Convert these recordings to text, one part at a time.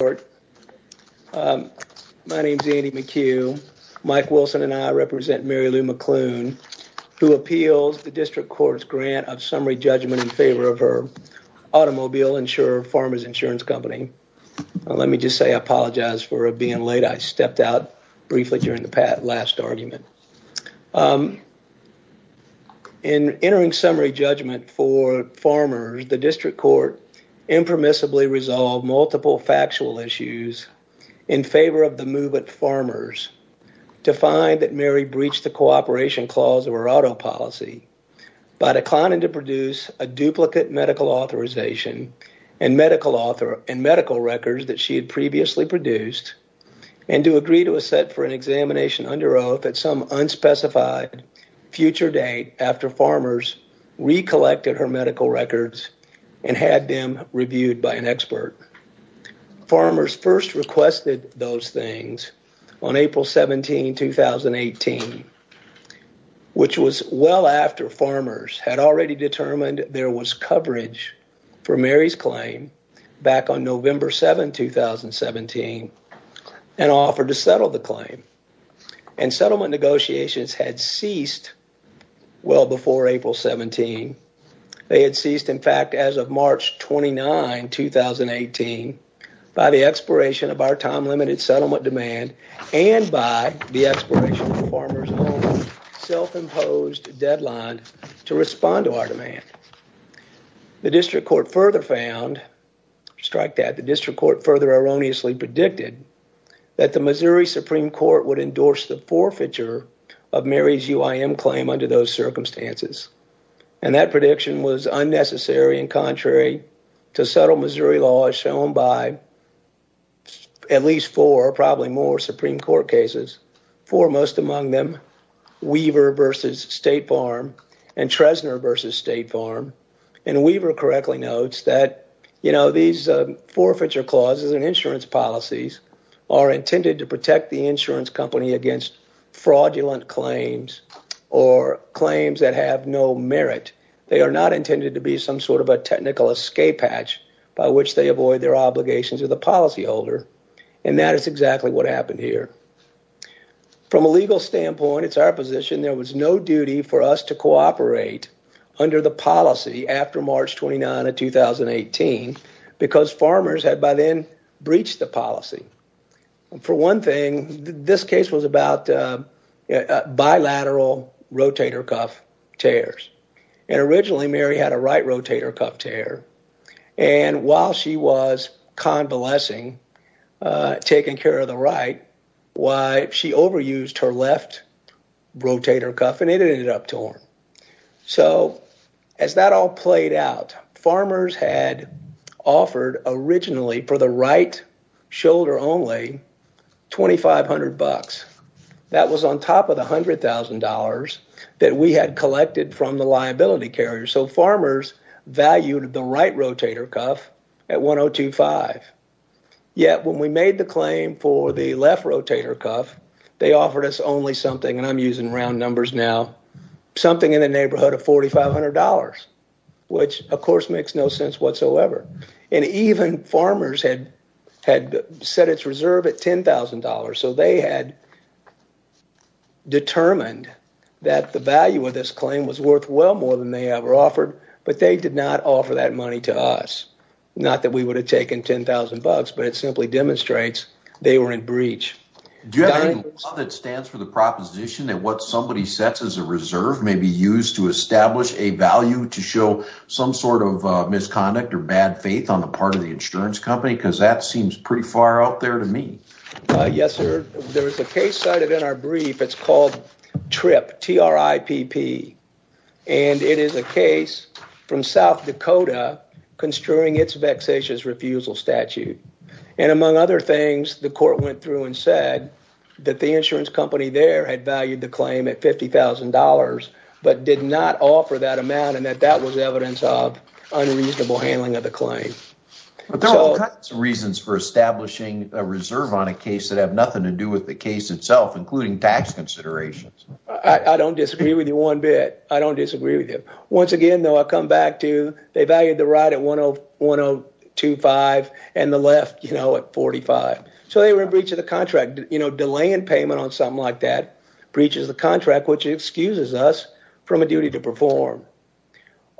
My name is Andy McHugh. Mike Wilson and I represent Mary Lou McClune who appeals the district court's grant of summary judgment in favor of her automobile insurer Farmers Insurance Company. Let me just say I apologize for being late. I stepped out briefly during the last argument. In entering summary judgment for farmers, the district court impermissibly resolved multiple factual issues in favor of the move at farmers to find that Mary breached the cooperation clause of her auto policy by declining to produce a duplicate medical authorization and medical records that she had previously produced and to agree to a set for an examination under oath at some unspecified future date after farmers recollected her medical records and had them reviewed by an expert. Farmers first requested those things on April 17, 2018 which was well after farmers had already determined there was coverage for Mary's claim back on November 7, 2017 and offered to settle the claim and settlement negotiations had ceased well before April 17. They had ceased, in fact, as of March 29, 2018 by the expiration of our time-limited settlement demand and by the expiration of the farmers' own self-imposed deadline to respond to our demand. The district court further found, strike that, the district court further erroneously predicted that the Missouri Supreme Court would endorse the forfeiture of Mary's UIM claim under those circumstances and that contrary to subtle Missouri law as shown by at least four, probably more, Supreme Court cases, foremost among them Weaver v. State Farm and Trezner v. State Farm and Weaver correctly notes that, you know, these forfeiture clauses and insurance policies are intended to protect the insurance company against fraudulent claims or claims that have no merit. They are not intended to be some sort of a technical escape hatch by which they avoid their obligations of the policy holder and that is exactly what happened here. From a legal standpoint, it's our position there was no duty for us to cooperate under the policy after March 29 of 2018 because farmers had by then breached the policy. For one thing, this bilateral rotator cuff tears and originally Mary had a right rotator cuff tear and while she was convalescing, taking care of the right, why she overused her left rotator cuff and it ended up torn. So as that all played out, farmers had offered originally for the right shoulder only $2,500. That was on top of the $100,000 that we had collected from the liability carrier. So farmers valued the right rotator cuff at $1025. Yet when we made the claim for the left rotator cuff, they offered us only something, and I'm using round numbers now, something in the neighborhood of $4,500, which of course makes no sense whatsoever. And even farmers had set its reserve at $10,000. So they had determined that the value of this claim was worth well more than they ever offered, but they did not offer that money to us. Not that we would have taken $10,000, but it simply demonstrates they were in breach. Do you have any law that stands for the proposition that what somebody sets as a reserve may be used to establish a value to show some sort of misconduct or bad faith on the part of the insurance company? Because that seems pretty far out there to me. Yes, sir. There is a case cited in our brief. It's called TRIPP, T-R-I-P-P, and it is a case from South Dakota construing its vexatious refusal statute. And among other things, the court went through and that the insurance company there had valued the claim at $50,000, but did not offer that amount and that that was evidence of unreasonable handling of the claim. But there are all kinds of reasons for establishing a reserve on a case that have nothing to do with the case itself, including tax considerations. I don't disagree with you one bit. I don't disagree with you. Once again, though, I'll come back to they valued the right at $1,025 and the left, you know, at $45. So they were in breach of the contract, you know, delaying payment on something like that breaches the contract, which excuses us from a duty to perform.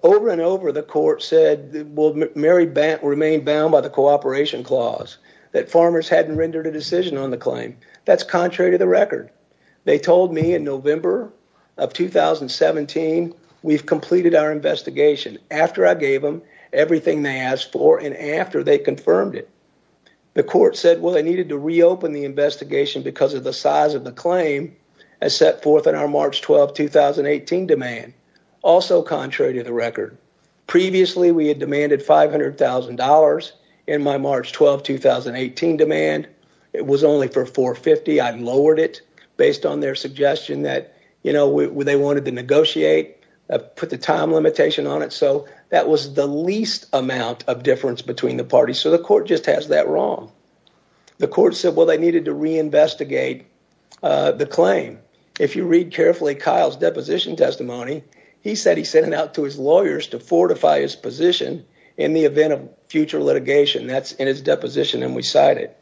Over and over, the court said, well, Mary Bant remained bound by the cooperation clause that farmers hadn't rendered a decision on the claim. That's contrary to the record. They told me in November of 2017, we've completed our investigation. After I gave them everything they asked for and after they confirmed it, the court said, well, they needed to reopen the investigation because of the size of the claim as set forth in our March 12, 2018 demand. Also contrary to the record. Previously, we had demanded $500,000 in my March 12, 2018 demand. It was only for 450. I lowered it based on their suggestion that, you know, they wanted to negotiate, put the time limitation on it. So that was the least amount of difference between the parties. So the court just has that wrong. The court said, well, they needed to reinvestigate the claim. If you read carefully Kyle's deposition testimony, he said he sent it out to his lawyers to fortify his position in the event of future litigation that's in his deposition. And we cite it.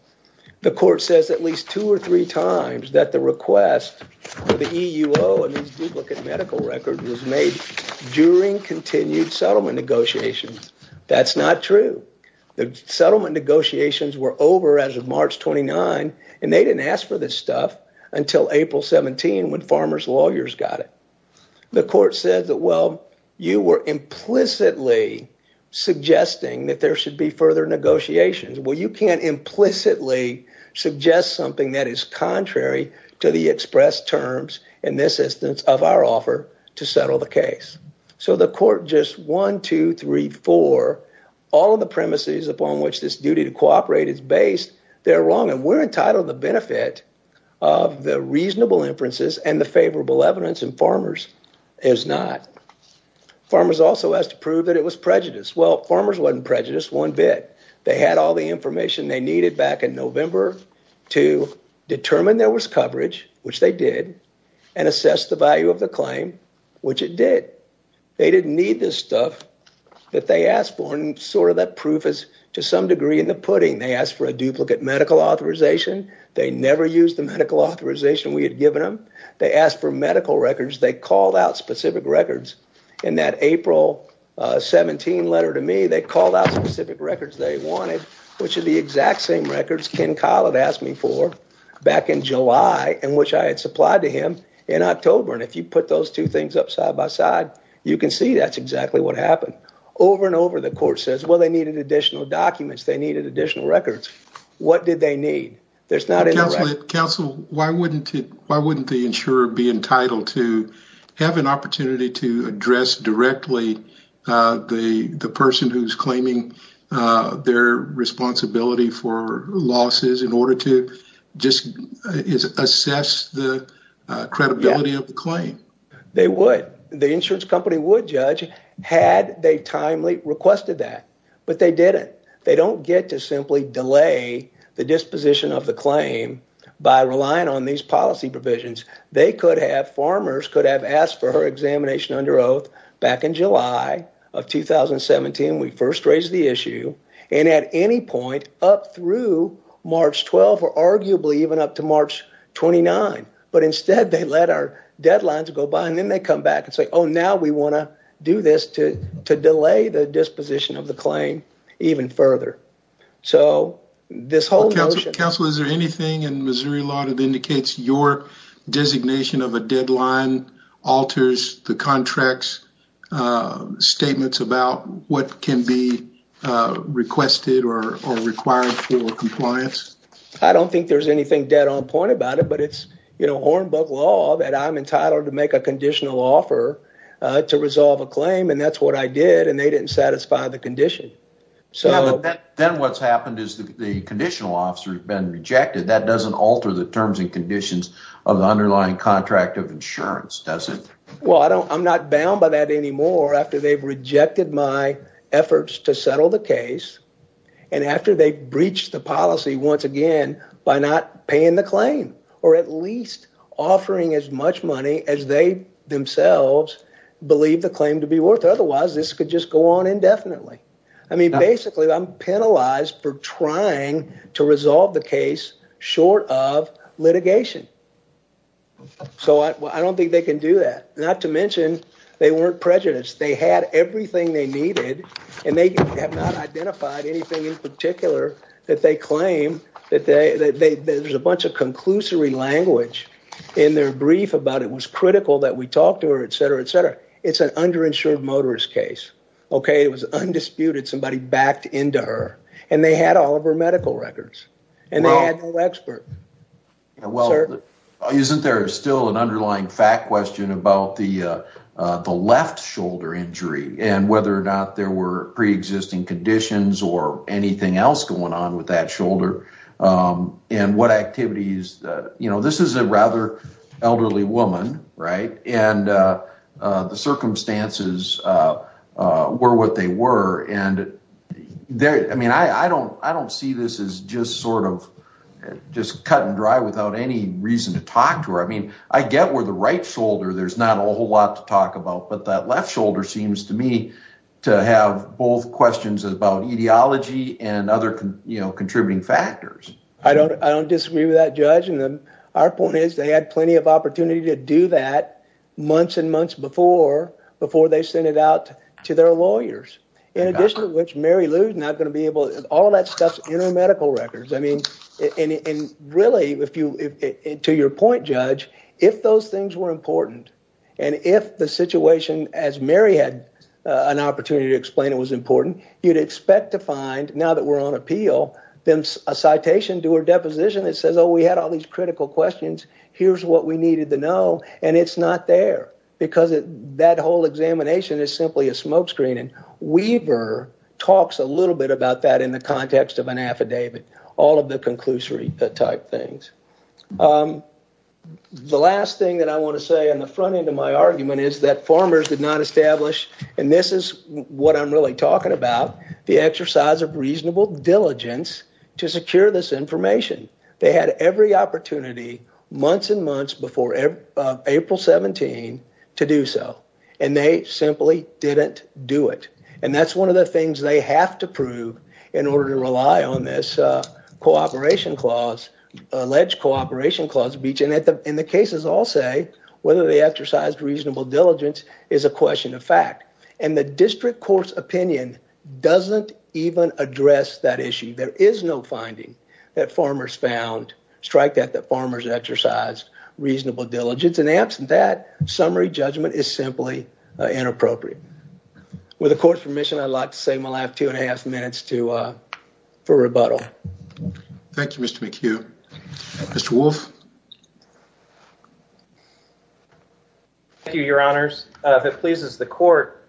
The court says at least two or three times that the request for the EUO and these duplicate medical records was made during continued settlement negotiations. That's not true. The settlement negotiations were over as of March 29 and they didn't ask for this stuff until April 17 when farmers lawyers got it. The court said that, well, you were implicitly suggesting that there should be further negotiations. Well, you can't implicitly is contrary to the express terms in this instance of our offer to settle the case. So the court just one, two, three, four, all of the premises upon which this duty to cooperate is based, they're wrong. And we're entitled the benefit of the reasonable inferences and the favorable evidence and farmers is not. Farmers also has to prove that it was prejudice. Well, farmers wasn't prejudiced one bit. They had all the information they needed back in November to determine there was coverage, which they did, and assess the value of the claim, which it did. They didn't need this stuff that they asked for and sort of that proof is to some degree in the pudding. They asked for a duplicate medical authorization. They never used the medical authorization we had given them. They asked for medical records. They called out specific records in that April 17 letter to me, they called out specific records they wanted, which are the exact same records Ken Collet asked me for back in July, and which I had supplied to him in October. And if you put those two things up side by side, you can see that's exactly what happened. Over and over the court says, well, they needed additional documents. They needed additional records. What did they need? There's not a council. Why wouldn't it? Why wouldn't the insurer be entitled to have an opportunity to address directly the person who's claiming their responsibility for losses in order to just assess the credibility of the claim? They would. The insurance company would, Judge, had they timely requested that. But they didn't. They don't get to simply delay the disposition of the claim by relying on these policy provisions. They could have, farmers could have asked for examination under oath back in July of 2017. We first raised the issue, and at any point up through March 12 or arguably even up to March 29. But instead, they let our deadlines go by, and then they come back and say, oh, now we want to do this to delay the disposition of the claim even further. So this whole notion- Counsel, is there anything in Missouri law that indicates your designation of a deadline alters the contract's statements about what can be requested or required for compliance? I don't think there's anything dead on point about it, but it's, you know, Hornbuck law that I'm entitled to make a conditional offer to resolve a claim, and that's what I did, and they didn't satisfy the condition. Then what's happened is the conditional officer has been rejected. That doesn't alter the terms and conditions of the underlying contract of insurance, does it? Well, I'm not bound by that anymore after they've rejected my efforts to settle the case, and after they've breached the policy once again by not paying the claim or at least offering as much money as they themselves believe the claim to be worth. Otherwise, this could just go on indefinitely. I mean, basically, I'm penalized for trying to resolve the case short of litigation. So I don't think they can do that, not to mention they weren't prejudiced. They had everything they needed, and they have not identified anything in particular that they claim that there's a bunch of conclusory language in their brief about it was critical that we talk to her, et cetera, et cetera. It's an underinsured motorist case, okay? It was underinsured, and they had no expert, sir. Well, isn't there still an underlying fact question about the left shoulder injury and whether or not there were preexisting conditions or anything else going on with that shoulder and what activities? This is a rather elderly woman, and the circumstances were what they were. I don't see this as just cut and dry without any reason to talk to her. I mean, I get where the right shoulder, there's not a whole lot to talk about, but that left shoulder seems to me to have both questions about etiology and other contributing factors. I don't disagree with that, Judge. Our point is they had plenty of that months and months before they sent it out to their lawyers. In addition to which, Mary Lou's not going to be able... All of that stuff's in her medical records. I mean, really, to your point, Judge, if those things were important, and if the situation, as Mary had an opportunity to explain it was important, you'd expect to find, now that we're on appeal, then a citation to her deposition that says, oh, we had all these critical questions. Here's what we needed to know, and it's not there because that whole examination is simply a smoke screen. Weaver talks a little bit about that in the context of an affidavit, all of the conclusory type things. The last thing that I want to say on the front end of my argument is that farmers did not establish, and this is what I'm really talking about, the exercise of reasonable diligence to secure this information. They had every opportunity months and months before April 17 to do so, and they simply didn't do it. That's one of the things they have to prove in order to rely on this alleged cooperation clause. In the cases I'll say, whether they exercised reasonable diligence is a question of fact. The district court's opinion doesn't even address that issue. There is no finding that farmers found, strike that, that farmers exercised reasonable diligence, and absent that, summary judgment is simply inappropriate. With the court's permission, I'd like to save my last two and a half minutes for rebuttal. Thank you, Mr. McHugh. Mr. Wolfe. Thank you, Your Honors. If it pleases the court,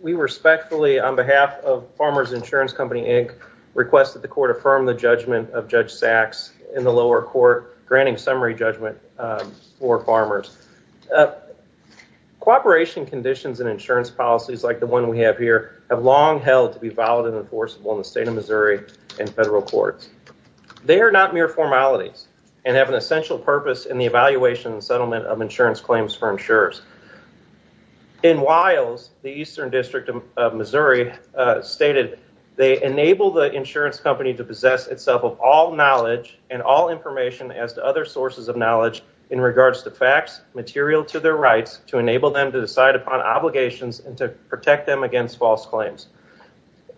we respectfully, on behalf of Farmers Insurance Company Inc., request that the court affirm the judgment of Judge Sachs in the lower court, granting summary judgment for farmers. Cooperation conditions and insurance policies like the one we have here have long held to be valid and enforceable in the state of Missouri and federal courts. They are not mere formalities and have an essential purpose in the evaluation and settlement of insurance claims for insurers. In Wiles, the eastern district of Missouri, stated, they enable the insurance company to possess itself of all knowledge and all information as to other sources of knowledge in regards to facts material to their rights to enable them to decide upon obligations and to protect them against false claims.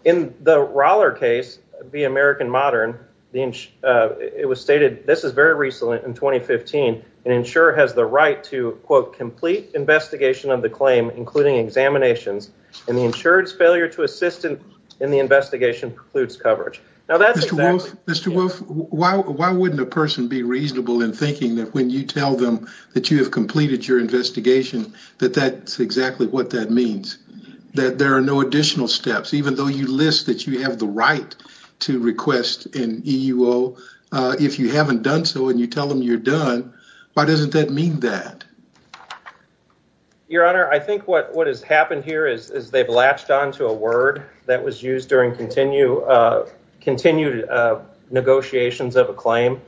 In the Roller case, the American Modern, it was stated, this is very recent in 2015, an insurer has the right to, quote, complete investigation of the claim, including examinations, and the insurer's failure to assist in the investigation precludes coverage. Now, that's exactly- Mr. Wolfe, why wouldn't a person be reasonable in thinking that when you tell them that you have completed your investigation, that that's exactly what that even though you list that you have the right to request an EUO, if you haven't done so and you tell them you're done, why doesn't that mean that? Your Honor, I think what has happened here is they've latched onto a word that was used during continued negotiations of a claim.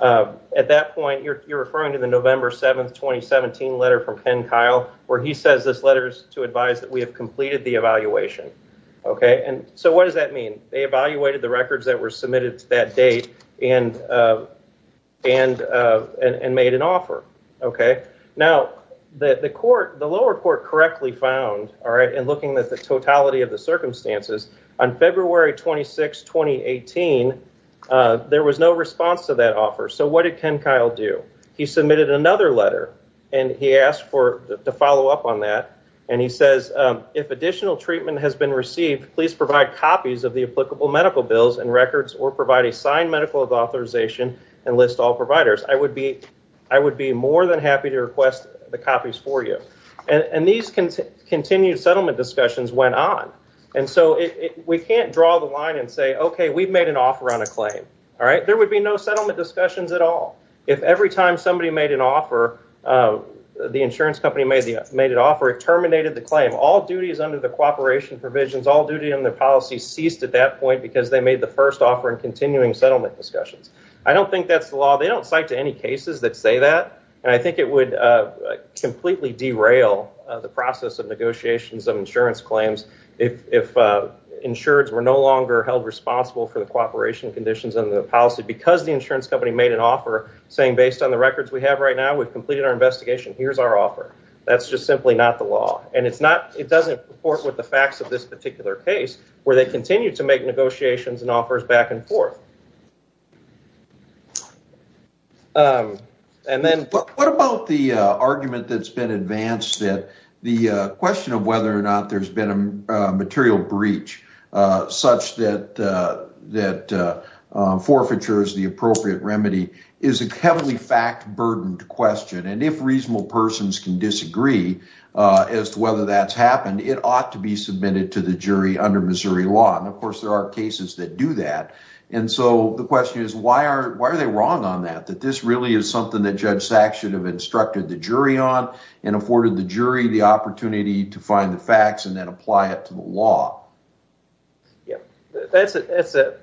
At that point, you're referring to the November 7th, 2017 letter from Ken Kyle, where he says this letter is to advise that we have completed the evaluation. So, what does that mean? They evaluated the records that were submitted to that date and made an offer. Now, the lower court correctly found, in looking at the totality of the circumstances, on February 26, 2018, there was no response to that offer. So, what did Ken Kyle do? He submitted another letter and he asked to follow up on that and he says, if additional treatment has been received, please provide copies of the applicable medical bills and records or provide a signed medical authorization and list all providers. I would be more than happy to request the copies for you. These continued settlement discussions went on. We can't draw the line and say, okay, we've made an offer on a claim. There would be no settlement discussions at all. If every time somebody made an offer, the insurance company made an offer, it terminated the claim. All duties under the cooperation provisions, all duty in the policy ceased at that point because they made the first offer in continuing settlement discussions. I don't think that's the law. They don't cite to any cases that say that and I think it would completely derail the process of negotiations of insurance claims if insureds were no longer held responsible for the cooperation conditions under the policy because the insurance company made an offer saying, based on the records we have right now, we've completed our investigation, here's our offer. That's just simply not the law. And it's not, it doesn't report with the facts of this particular case where they continue to make negotiations and offers back and forth. And then, what about the argument that's been advanced that the question of whether or not there's been a material breach such that forfeiture is the appropriate remedy is a heavily fact-burdened question. And if reasonable persons can disagree as to whether that's happened, it ought to be submitted to the jury under Missouri law. And of course, there are cases that do that. And so, the question is, why are they wrong on that? That this really is something that Judge Sachs should have instructed the jury on and afforded the jury the opportunity to find the facts and then apply it to the law. Yeah, that's a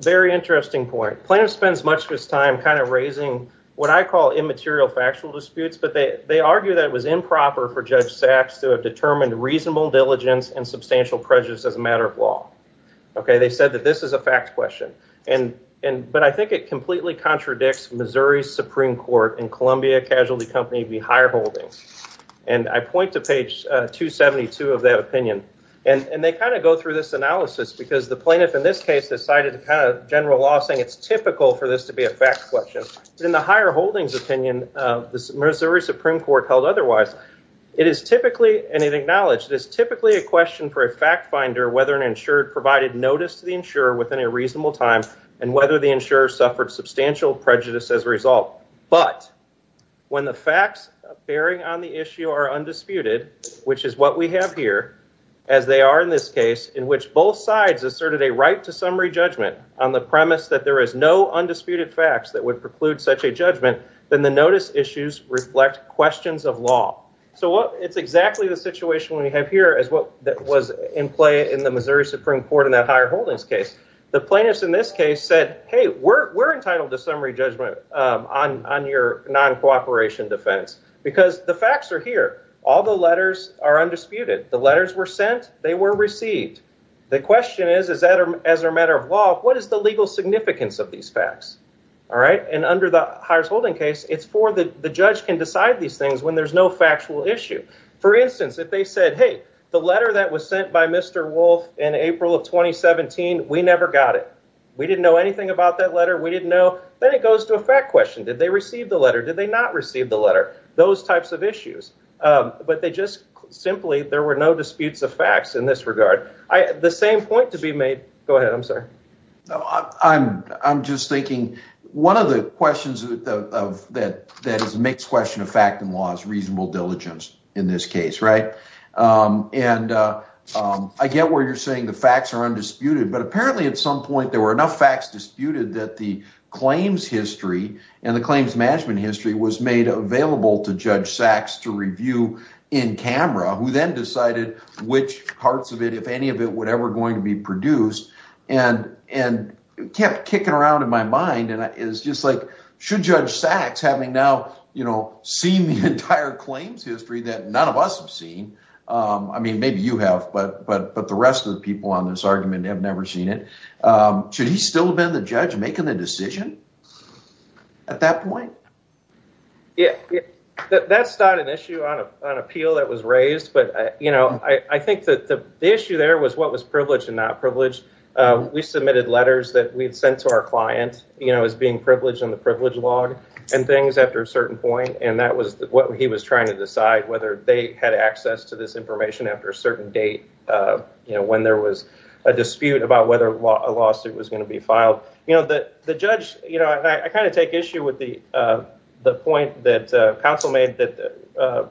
very interesting point. Plaintiff spends much of his time kind of raising what I call immaterial factual disputes, but they argue that it was improper for Judge Sachs to have determined reasonable diligence and substantial prejudice as a matter of law. Okay, they said that this is a fact question. But I think it completely contradicts Missouri's Supreme Court and Columbia Casualty Company v. Higher Holdings. And I point to page 272 of that opinion. And they kind of go through this analysis because the plaintiff in this case decided to kind of general law saying it's typical for this to be a fact question. In the Higher Holdings opinion, the Missouri Supreme Court held otherwise. It is typically, and it acknowledged, it is typically a question for a fact finder whether an insurer provided notice to the insurer within a reasonable time and whether the insurer suffered substantial prejudice as a result. But when the facts bearing on the issue are undisputed, which is what we have here, as they are in this case, in which both sides asserted a right to summary judgment on the premise that there is no undisputed facts that would preclude such a judgment, then the notice issues reflect questions of law. So it's exactly the situation we have here as what was in play in the Missouri Supreme Court in that Higher Holdings case. The plaintiffs in this case said, hey, we're entitled to summary judgment on your non-cooperation defense, because the facts are here. All the letters are undisputed. The letters were sent. They were received. The question is, as a matter of law, what is the legal significance of these facts? All right. And under the Higher Holdings case, it's for the judge can decide these things when there's no factual issue. For instance, if they said, hey, the letter that was sent by Mr. Wolf in April of 2017, we never got it. We didn't know anything about that letter. We didn't know. Then it goes to a fact question. Did they receive the letter? Did they not receive the letter? Those types of issues. But they just simply, there were no disputes of facts in this regard. The same point to be made. Go ahead. I'm sorry. I'm just thinking, one of the questions that is a mixed question of fact and law is reasonable diligence in this case, right? And I get where you're saying the facts are undisputed. But apparently, at some point, there were enough facts disputed that the claims history and the claims management history was made available to Judge Sachs to review in camera, who then decided which parts of it, if any of it, were ever going to be produced. And it kept kicking around in my mind. And it's just like, should Judge Sachs, having now seen the entire claims history that none of us have seen, I mean, maybe you have, but the rest of people on this argument have never seen it, should he still have been the judge making the decision at that point? Yeah. That's not an issue on appeal that was raised. But I think that the issue there was what was privileged and not privileged. We submitted letters that we'd sent to our client as being privileged in the privilege log and things after a certain point. And that was what he was trying to decide, whether they had access to this information after a certain date, when there was a dispute about whether a lawsuit was going to be filed. You know, the judge, you know, I kind of take issue with the point that counsel made that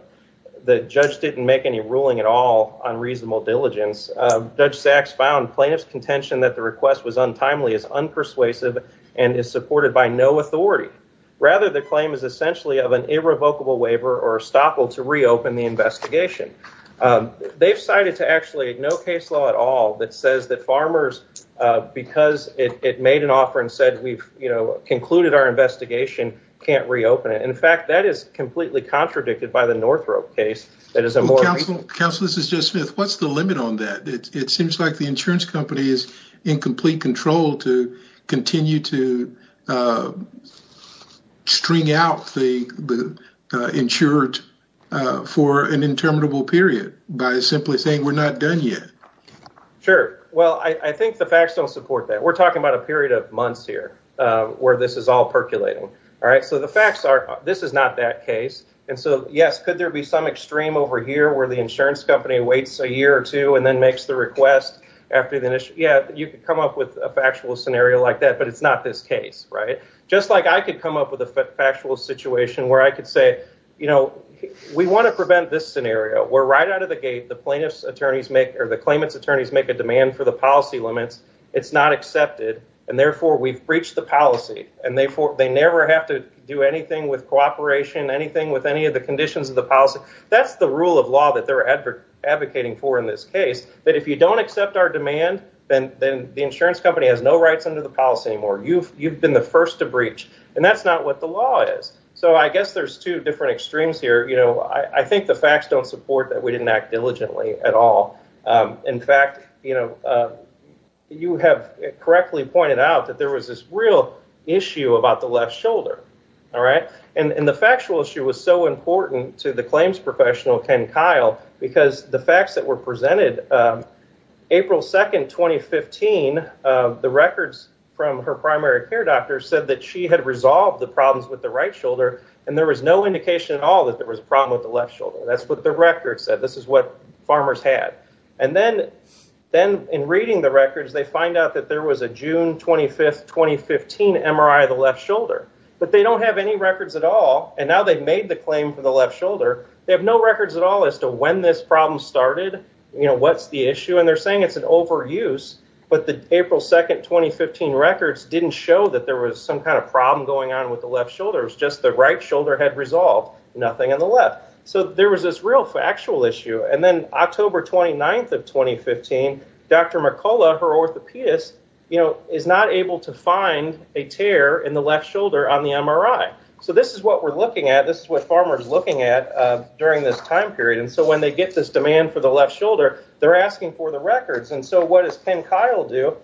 the judge didn't make any ruling at all on reasonable diligence. Judge Sachs found plaintiff's contention that the request was untimely, is unpersuasive, and is supported by no authority. Rather, the claim is essentially of an irrevocable waiver or estoppel to reopen the investigation. They've cited to actually no case law at all that says that farmers, because it made an offer and said we've, you know, concluded our investigation, can't reopen it. In fact, that is completely contradicted by the Northrop case. Counsel, this is Joe Smith. What's the limit on that? It seems like the insurance company is in complete control to continue to insure it for an interminable period by simply saying we're not done yet. Sure. Well, I think the facts don't support that. We're talking about a period of months here where this is all percolating. All right. So, the facts are this is not that case. And so, yes, could there be some extreme over here where the insurance company waits a year or two and then makes the request after the initial, yeah, you could come up with a factual scenario like that, but it's not this case. Right. Just like I could come up with a factual situation where I could say, you know, we want to prevent this scenario. We're right out of the gate. The plaintiff's attorneys make or the claimant's attorneys make a demand for the policy limits. It's not accepted. And therefore, we've breached the policy. And therefore, they never have to do anything with cooperation, anything with any of the conditions of the policy. That's the rule of law that they're advocating for in this case, that if you don't accept our demand, then the insurance company has no rights under the policy anymore. You've been the first to breach. And that's not what the law is. So, I guess there's two different extremes here. You know, I think the facts don't support that we didn't act diligently at all. In fact, you know, you have correctly pointed out that there was this real issue about the left shoulder. All right. And the factual issue was so important to the claims professional, Ken Kyle, because the facts that were presented April 2nd, 2015, the records from her primary care doctor said that she had resolved the problems with the right shoulder and there was no indication at all that there was a problem with the left shoulder. That's what the record said. This is what farmers had. And then in reading the records, they find out that there was a June 25th, 2015 MRI of the left shoulder. But they don't have any records at all. And now they've made the claim for the left shoulder. They have no records at all as to when this problem started. You know, what's the issue? And they're saying it's an overuse. But the April 2nd, 2015 records didn't show that there was some kind of problem going on with the left shoulders. Just the right shoulder had resolved. Nothing on the left. So, there was this real factual issue. And then October 29th of 2015, Dr. Mercola, her orthopedist, you know, is not able to find a tear in the left shoulder on the MRI. So, this is what we're looking at. This is what farmers are looking at during this time period. And so, when they get this demand for the left shoulder, they're asking for the records. And so, what does Penn Kyle do?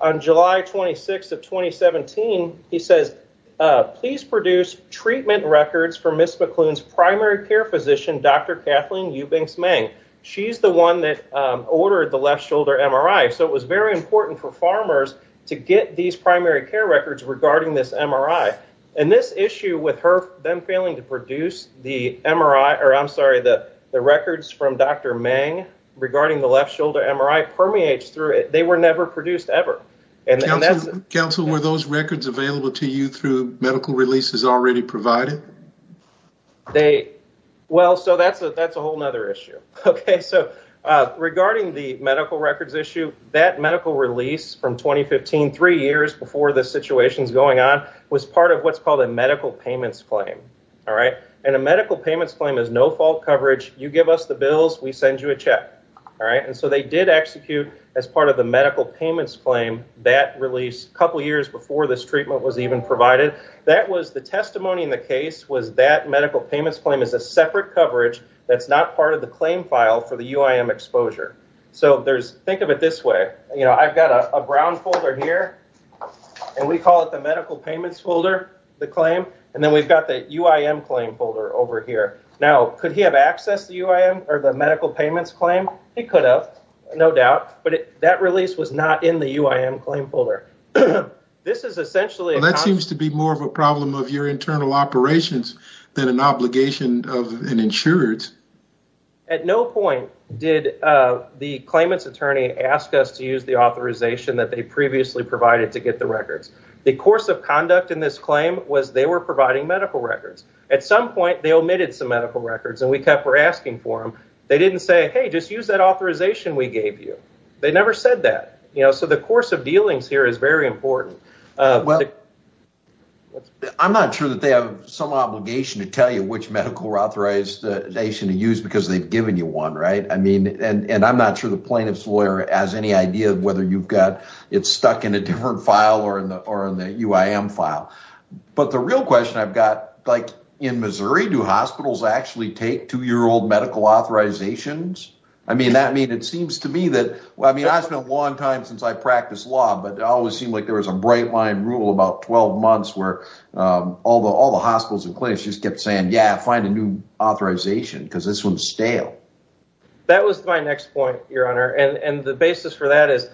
On July 26th of 2017, he says, please produce treatment records for Ms. McClune's primary care physician, Dr. Kathleen Eubanks-Mang. She's the one that ordered the left shoulder MRI. So, it was very important for farmers to get these primary care records regarding this MRI. And this issue with her then failing to produce the MRI, or I'm sorry, the records from Dr. Mang regarding the left shoulder MRI permeates through it. They were never produced ever. And that's... Counsel, were those records available to you through medical releases already provided? They, well, so that's a whole other issue. Okay. So, regarding the medical records issue, that medical release from 2015, three years before the situation's going on, was part of what's called a medical payments claim. All right. And a medical payments claim is no fault coverage. You give us the bills, we send you a check. All right. And so, they did execute as part of the medical payments claim that release a couple years before this treatment was even provided. That was the testimony in the case was that medical payments claim is a separate coverage that's not part of the claim file for the UIM exposure. So, there's, think of it this way, you know, I've got a brown folder here and we call it the medical payments folder, the claim, and then we've got the UIM claim folder over here. Now, could he have accessed the UIM or the medical payments claim? He could have, no doubt, but that release was not in the UIM claim folder. This is essentially... Well, that seems to be more of a problem of your internal operations than an obligation of an insurer. At no point did the claimant's attorney ask us to use the authorization that they previously provided to get the records. The course of conduct in this claim was they were providing medical records. At some point, they omitted some medical records and we kept asking for them. They didn't say, hey, just use that authorization we gave you. They never said that. You know, so the course of dealings here is very important. Well, I'm not sure that they have some obligation to tell you which medical authorization to use because they've given you one, right? I mean, and I'm not sure the plaintiff's lawyer has any idea of whether you've got, it's stuck in a different file or in the UIM file. But the real question I've got, like in Missouri, do hospitals actually take two-year-old medical authorizations? I mean, that means it seems to me that, well, I mean, I spent a long time since I ruled about 12 months where all the hospitals and clinics just kept saying, yeah, find a new authorization because this one's stale. That was my next point, Your Honor. And the basis for that is,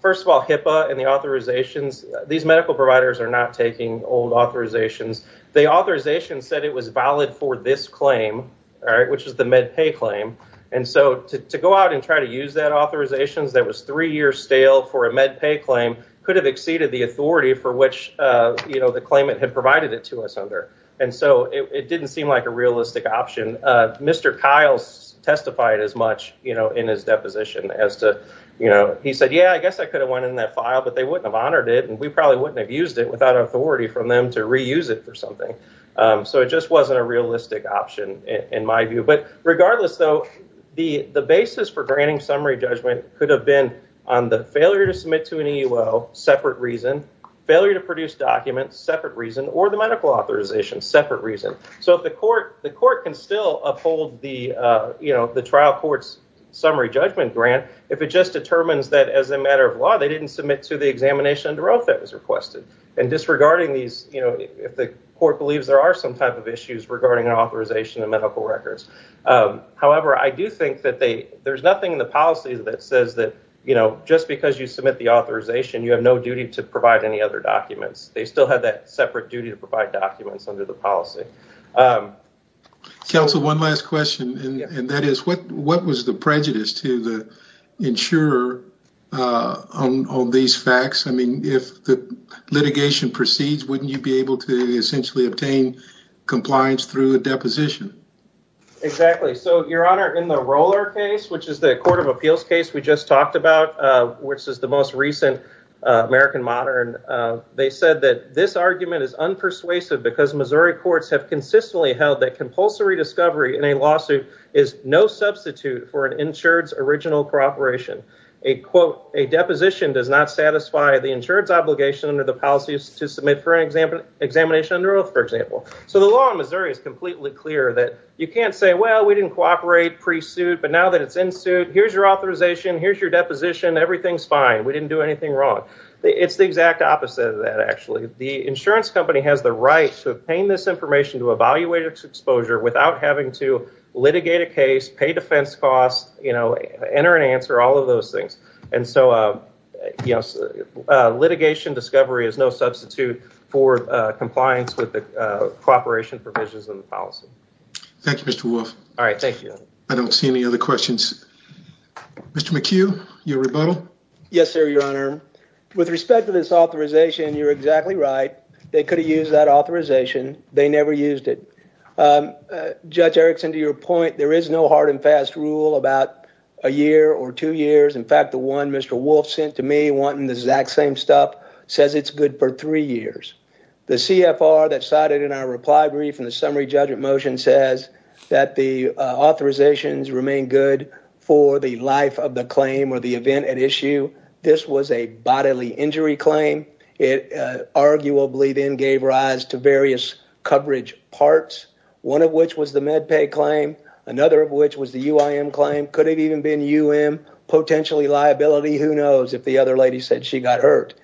first of all, HIPAA and the authorizations, these medical providers are not taking old authorizations. The authorization said it was valid for this claim, all right, which is the MedPay claim. And so to go out and try to use that authorization that was three years stale for a MedPay claim could have exceeded the authority for which, you know, the claimant had provided it to us under. And so it didn't seem like a realistic option. Mr. Kiles testified as much, you know, in his deposition as to, you know, he said, yeah, I guess I could have went in that file, but they wouldn't have honored it. And we probably wouldn't have used it without authority from them to reuse it for something. So it just wasn't a realistic option in my view. But to submit to an EUO, separate reason, failure to produce documents, separate reason, or the medical authorization, separate reason. So if the court, the court can still uphold the, you know, the trial court's summary judgment grant, if it just determines that as a matter of law, they didn't submit to the examination under oath that was requested. And disregarding these, you know, if the court believes there are some type of issues regarding an authorization and medical records. However, I do think that they, there's nothing in the policies that says that, you know, just because you submit the authorization, you have no duty to provide any other documents. They still have that separate duty to provide documents under the policy. Counsel, one last question. And that is what, what was the prejudice to the insurer on all these facts? I mean, if the litigation proceeds, wouldn't you be able to essentially obtain compliance through a deposition? Exactly. So your honor, in the Roller case, which is the court of appeals case we just talked about, which is the most recent American modern, they said that this argument is unpersuasive because Missouri courts have consistently held that compulsory discovery in a lawsuit is no substitute for an insured's original cooperation. A quote, a deposition does not satisfy the insured's obligation under the policies to submit for an exam, examination under oath, for example. So the law in Missouri is completely clear that you can't say, well, we didn't cooperate pre-suit, but now that it's in suit, here's your authorization. Here's your deposition. Everything's fine. We didn't do anything wrong. It's the exact opposite of that. Actually, the insurance company has the right to obtain this information, to evaluate its exposure without having to litigate a case, pay defense costs, you know, enter and answer all of those things. And so, you know, litigation discovery is no substitute for an insured's obligation under the policy. Thank you, Mr. Wolf. All right. Thank you. I don't see any other questions. Mr. McHugh, your rebuttal. Yes, sir, your honor. With respect to this authorization, you're exactly right. They could have used that authorization. They never used it. Judge Erickson, to your point, there is no hard and fast rule about a year or two years. In fact, the one Mr. Wolf sent to me wanting the exact same stuff says it's good for three years. The CFR that cited in our reply brief in the summary judgment motion says that the authorizations remain good for the life of the claim or the event at issue. This was a bodily injury claim. It arguably then gave rise to various coverage parts, one of which was the MedPay claim, another of which was the UIM claim, could have even been UM, potentially liability. Who knows if the other lady said she got hurt.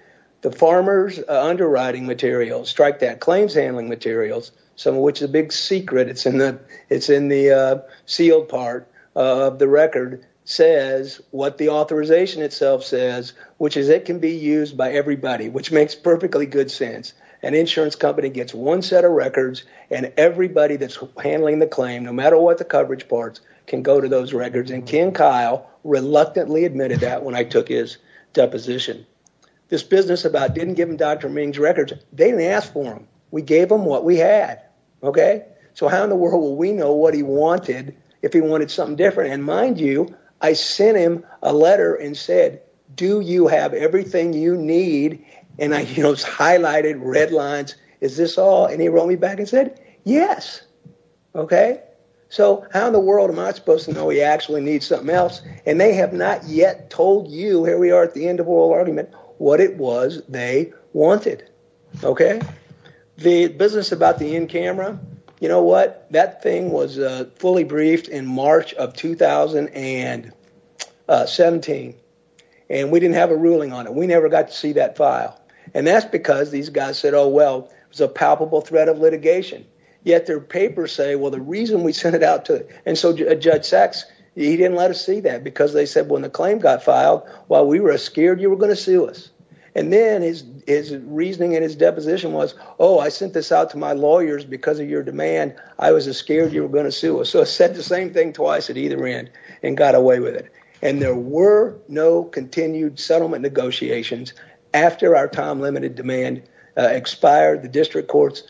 The farmer's underwriting materials, strike that, claims handling materials, some of which is a big secret, it's in the sealed part of the record, says what the authorization itself says, which is it can be used by everybody, which makes perfectly good sense. An insurance company gets one set of records and everybody that's handling the claim, no matter what the coverage parts, can go to those records. Ken Kyle reluctantly admitted that when I took his deposition, this business about didn't give him Dr. Ming's records, they didn't ask for them. We gave them what we had. How in the world will we know what he wanted if he wanted something different? Mind you, I sent him a letter and said, do you have everything you need? I highlighted red lines, is this all? He wrote me back and said, yes. How in the world am I supposed to know he actually needs something else? They have not yet told you, here we are at the end of oral argument, what it was they wanted. The business about the in-camera, you know what? That thing was fully briefed in March of 2017. We didn't have a ruling on it. We never got to see that file. That's because these guys said, oh, well, it was a palpable threat of litigation. Yet their papers say, well, the reason we sent it out to a Judge Sachs, he didn't let us see that because they said when the claim got filed, while we were scared, you were going to sue us. And then his reasoning and his deposition was, oh, I sent this out to my lawyers because of your demand. I was scared you were going to sue us. So I said the same thing twice at either end and got away with it. And there were no continued settlement negotiations after our time-limited demand expired. The district court's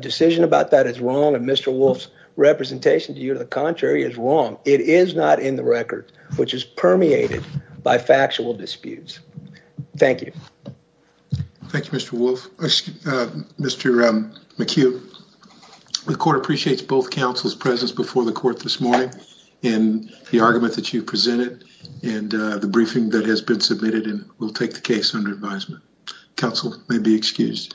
decision about that is wrong and Mr. Wolf's representation to you to the contrary is wrong. It is not in the record, which is permeated by factual disputes. Thank you. Thank you, Mr. Wolf. Mr. McHugh, the court appreciates both counsel's presence before the court this morning in the argument that you presented and the briefing that has been submitted and will take the case under advisement. Counsel may be excused.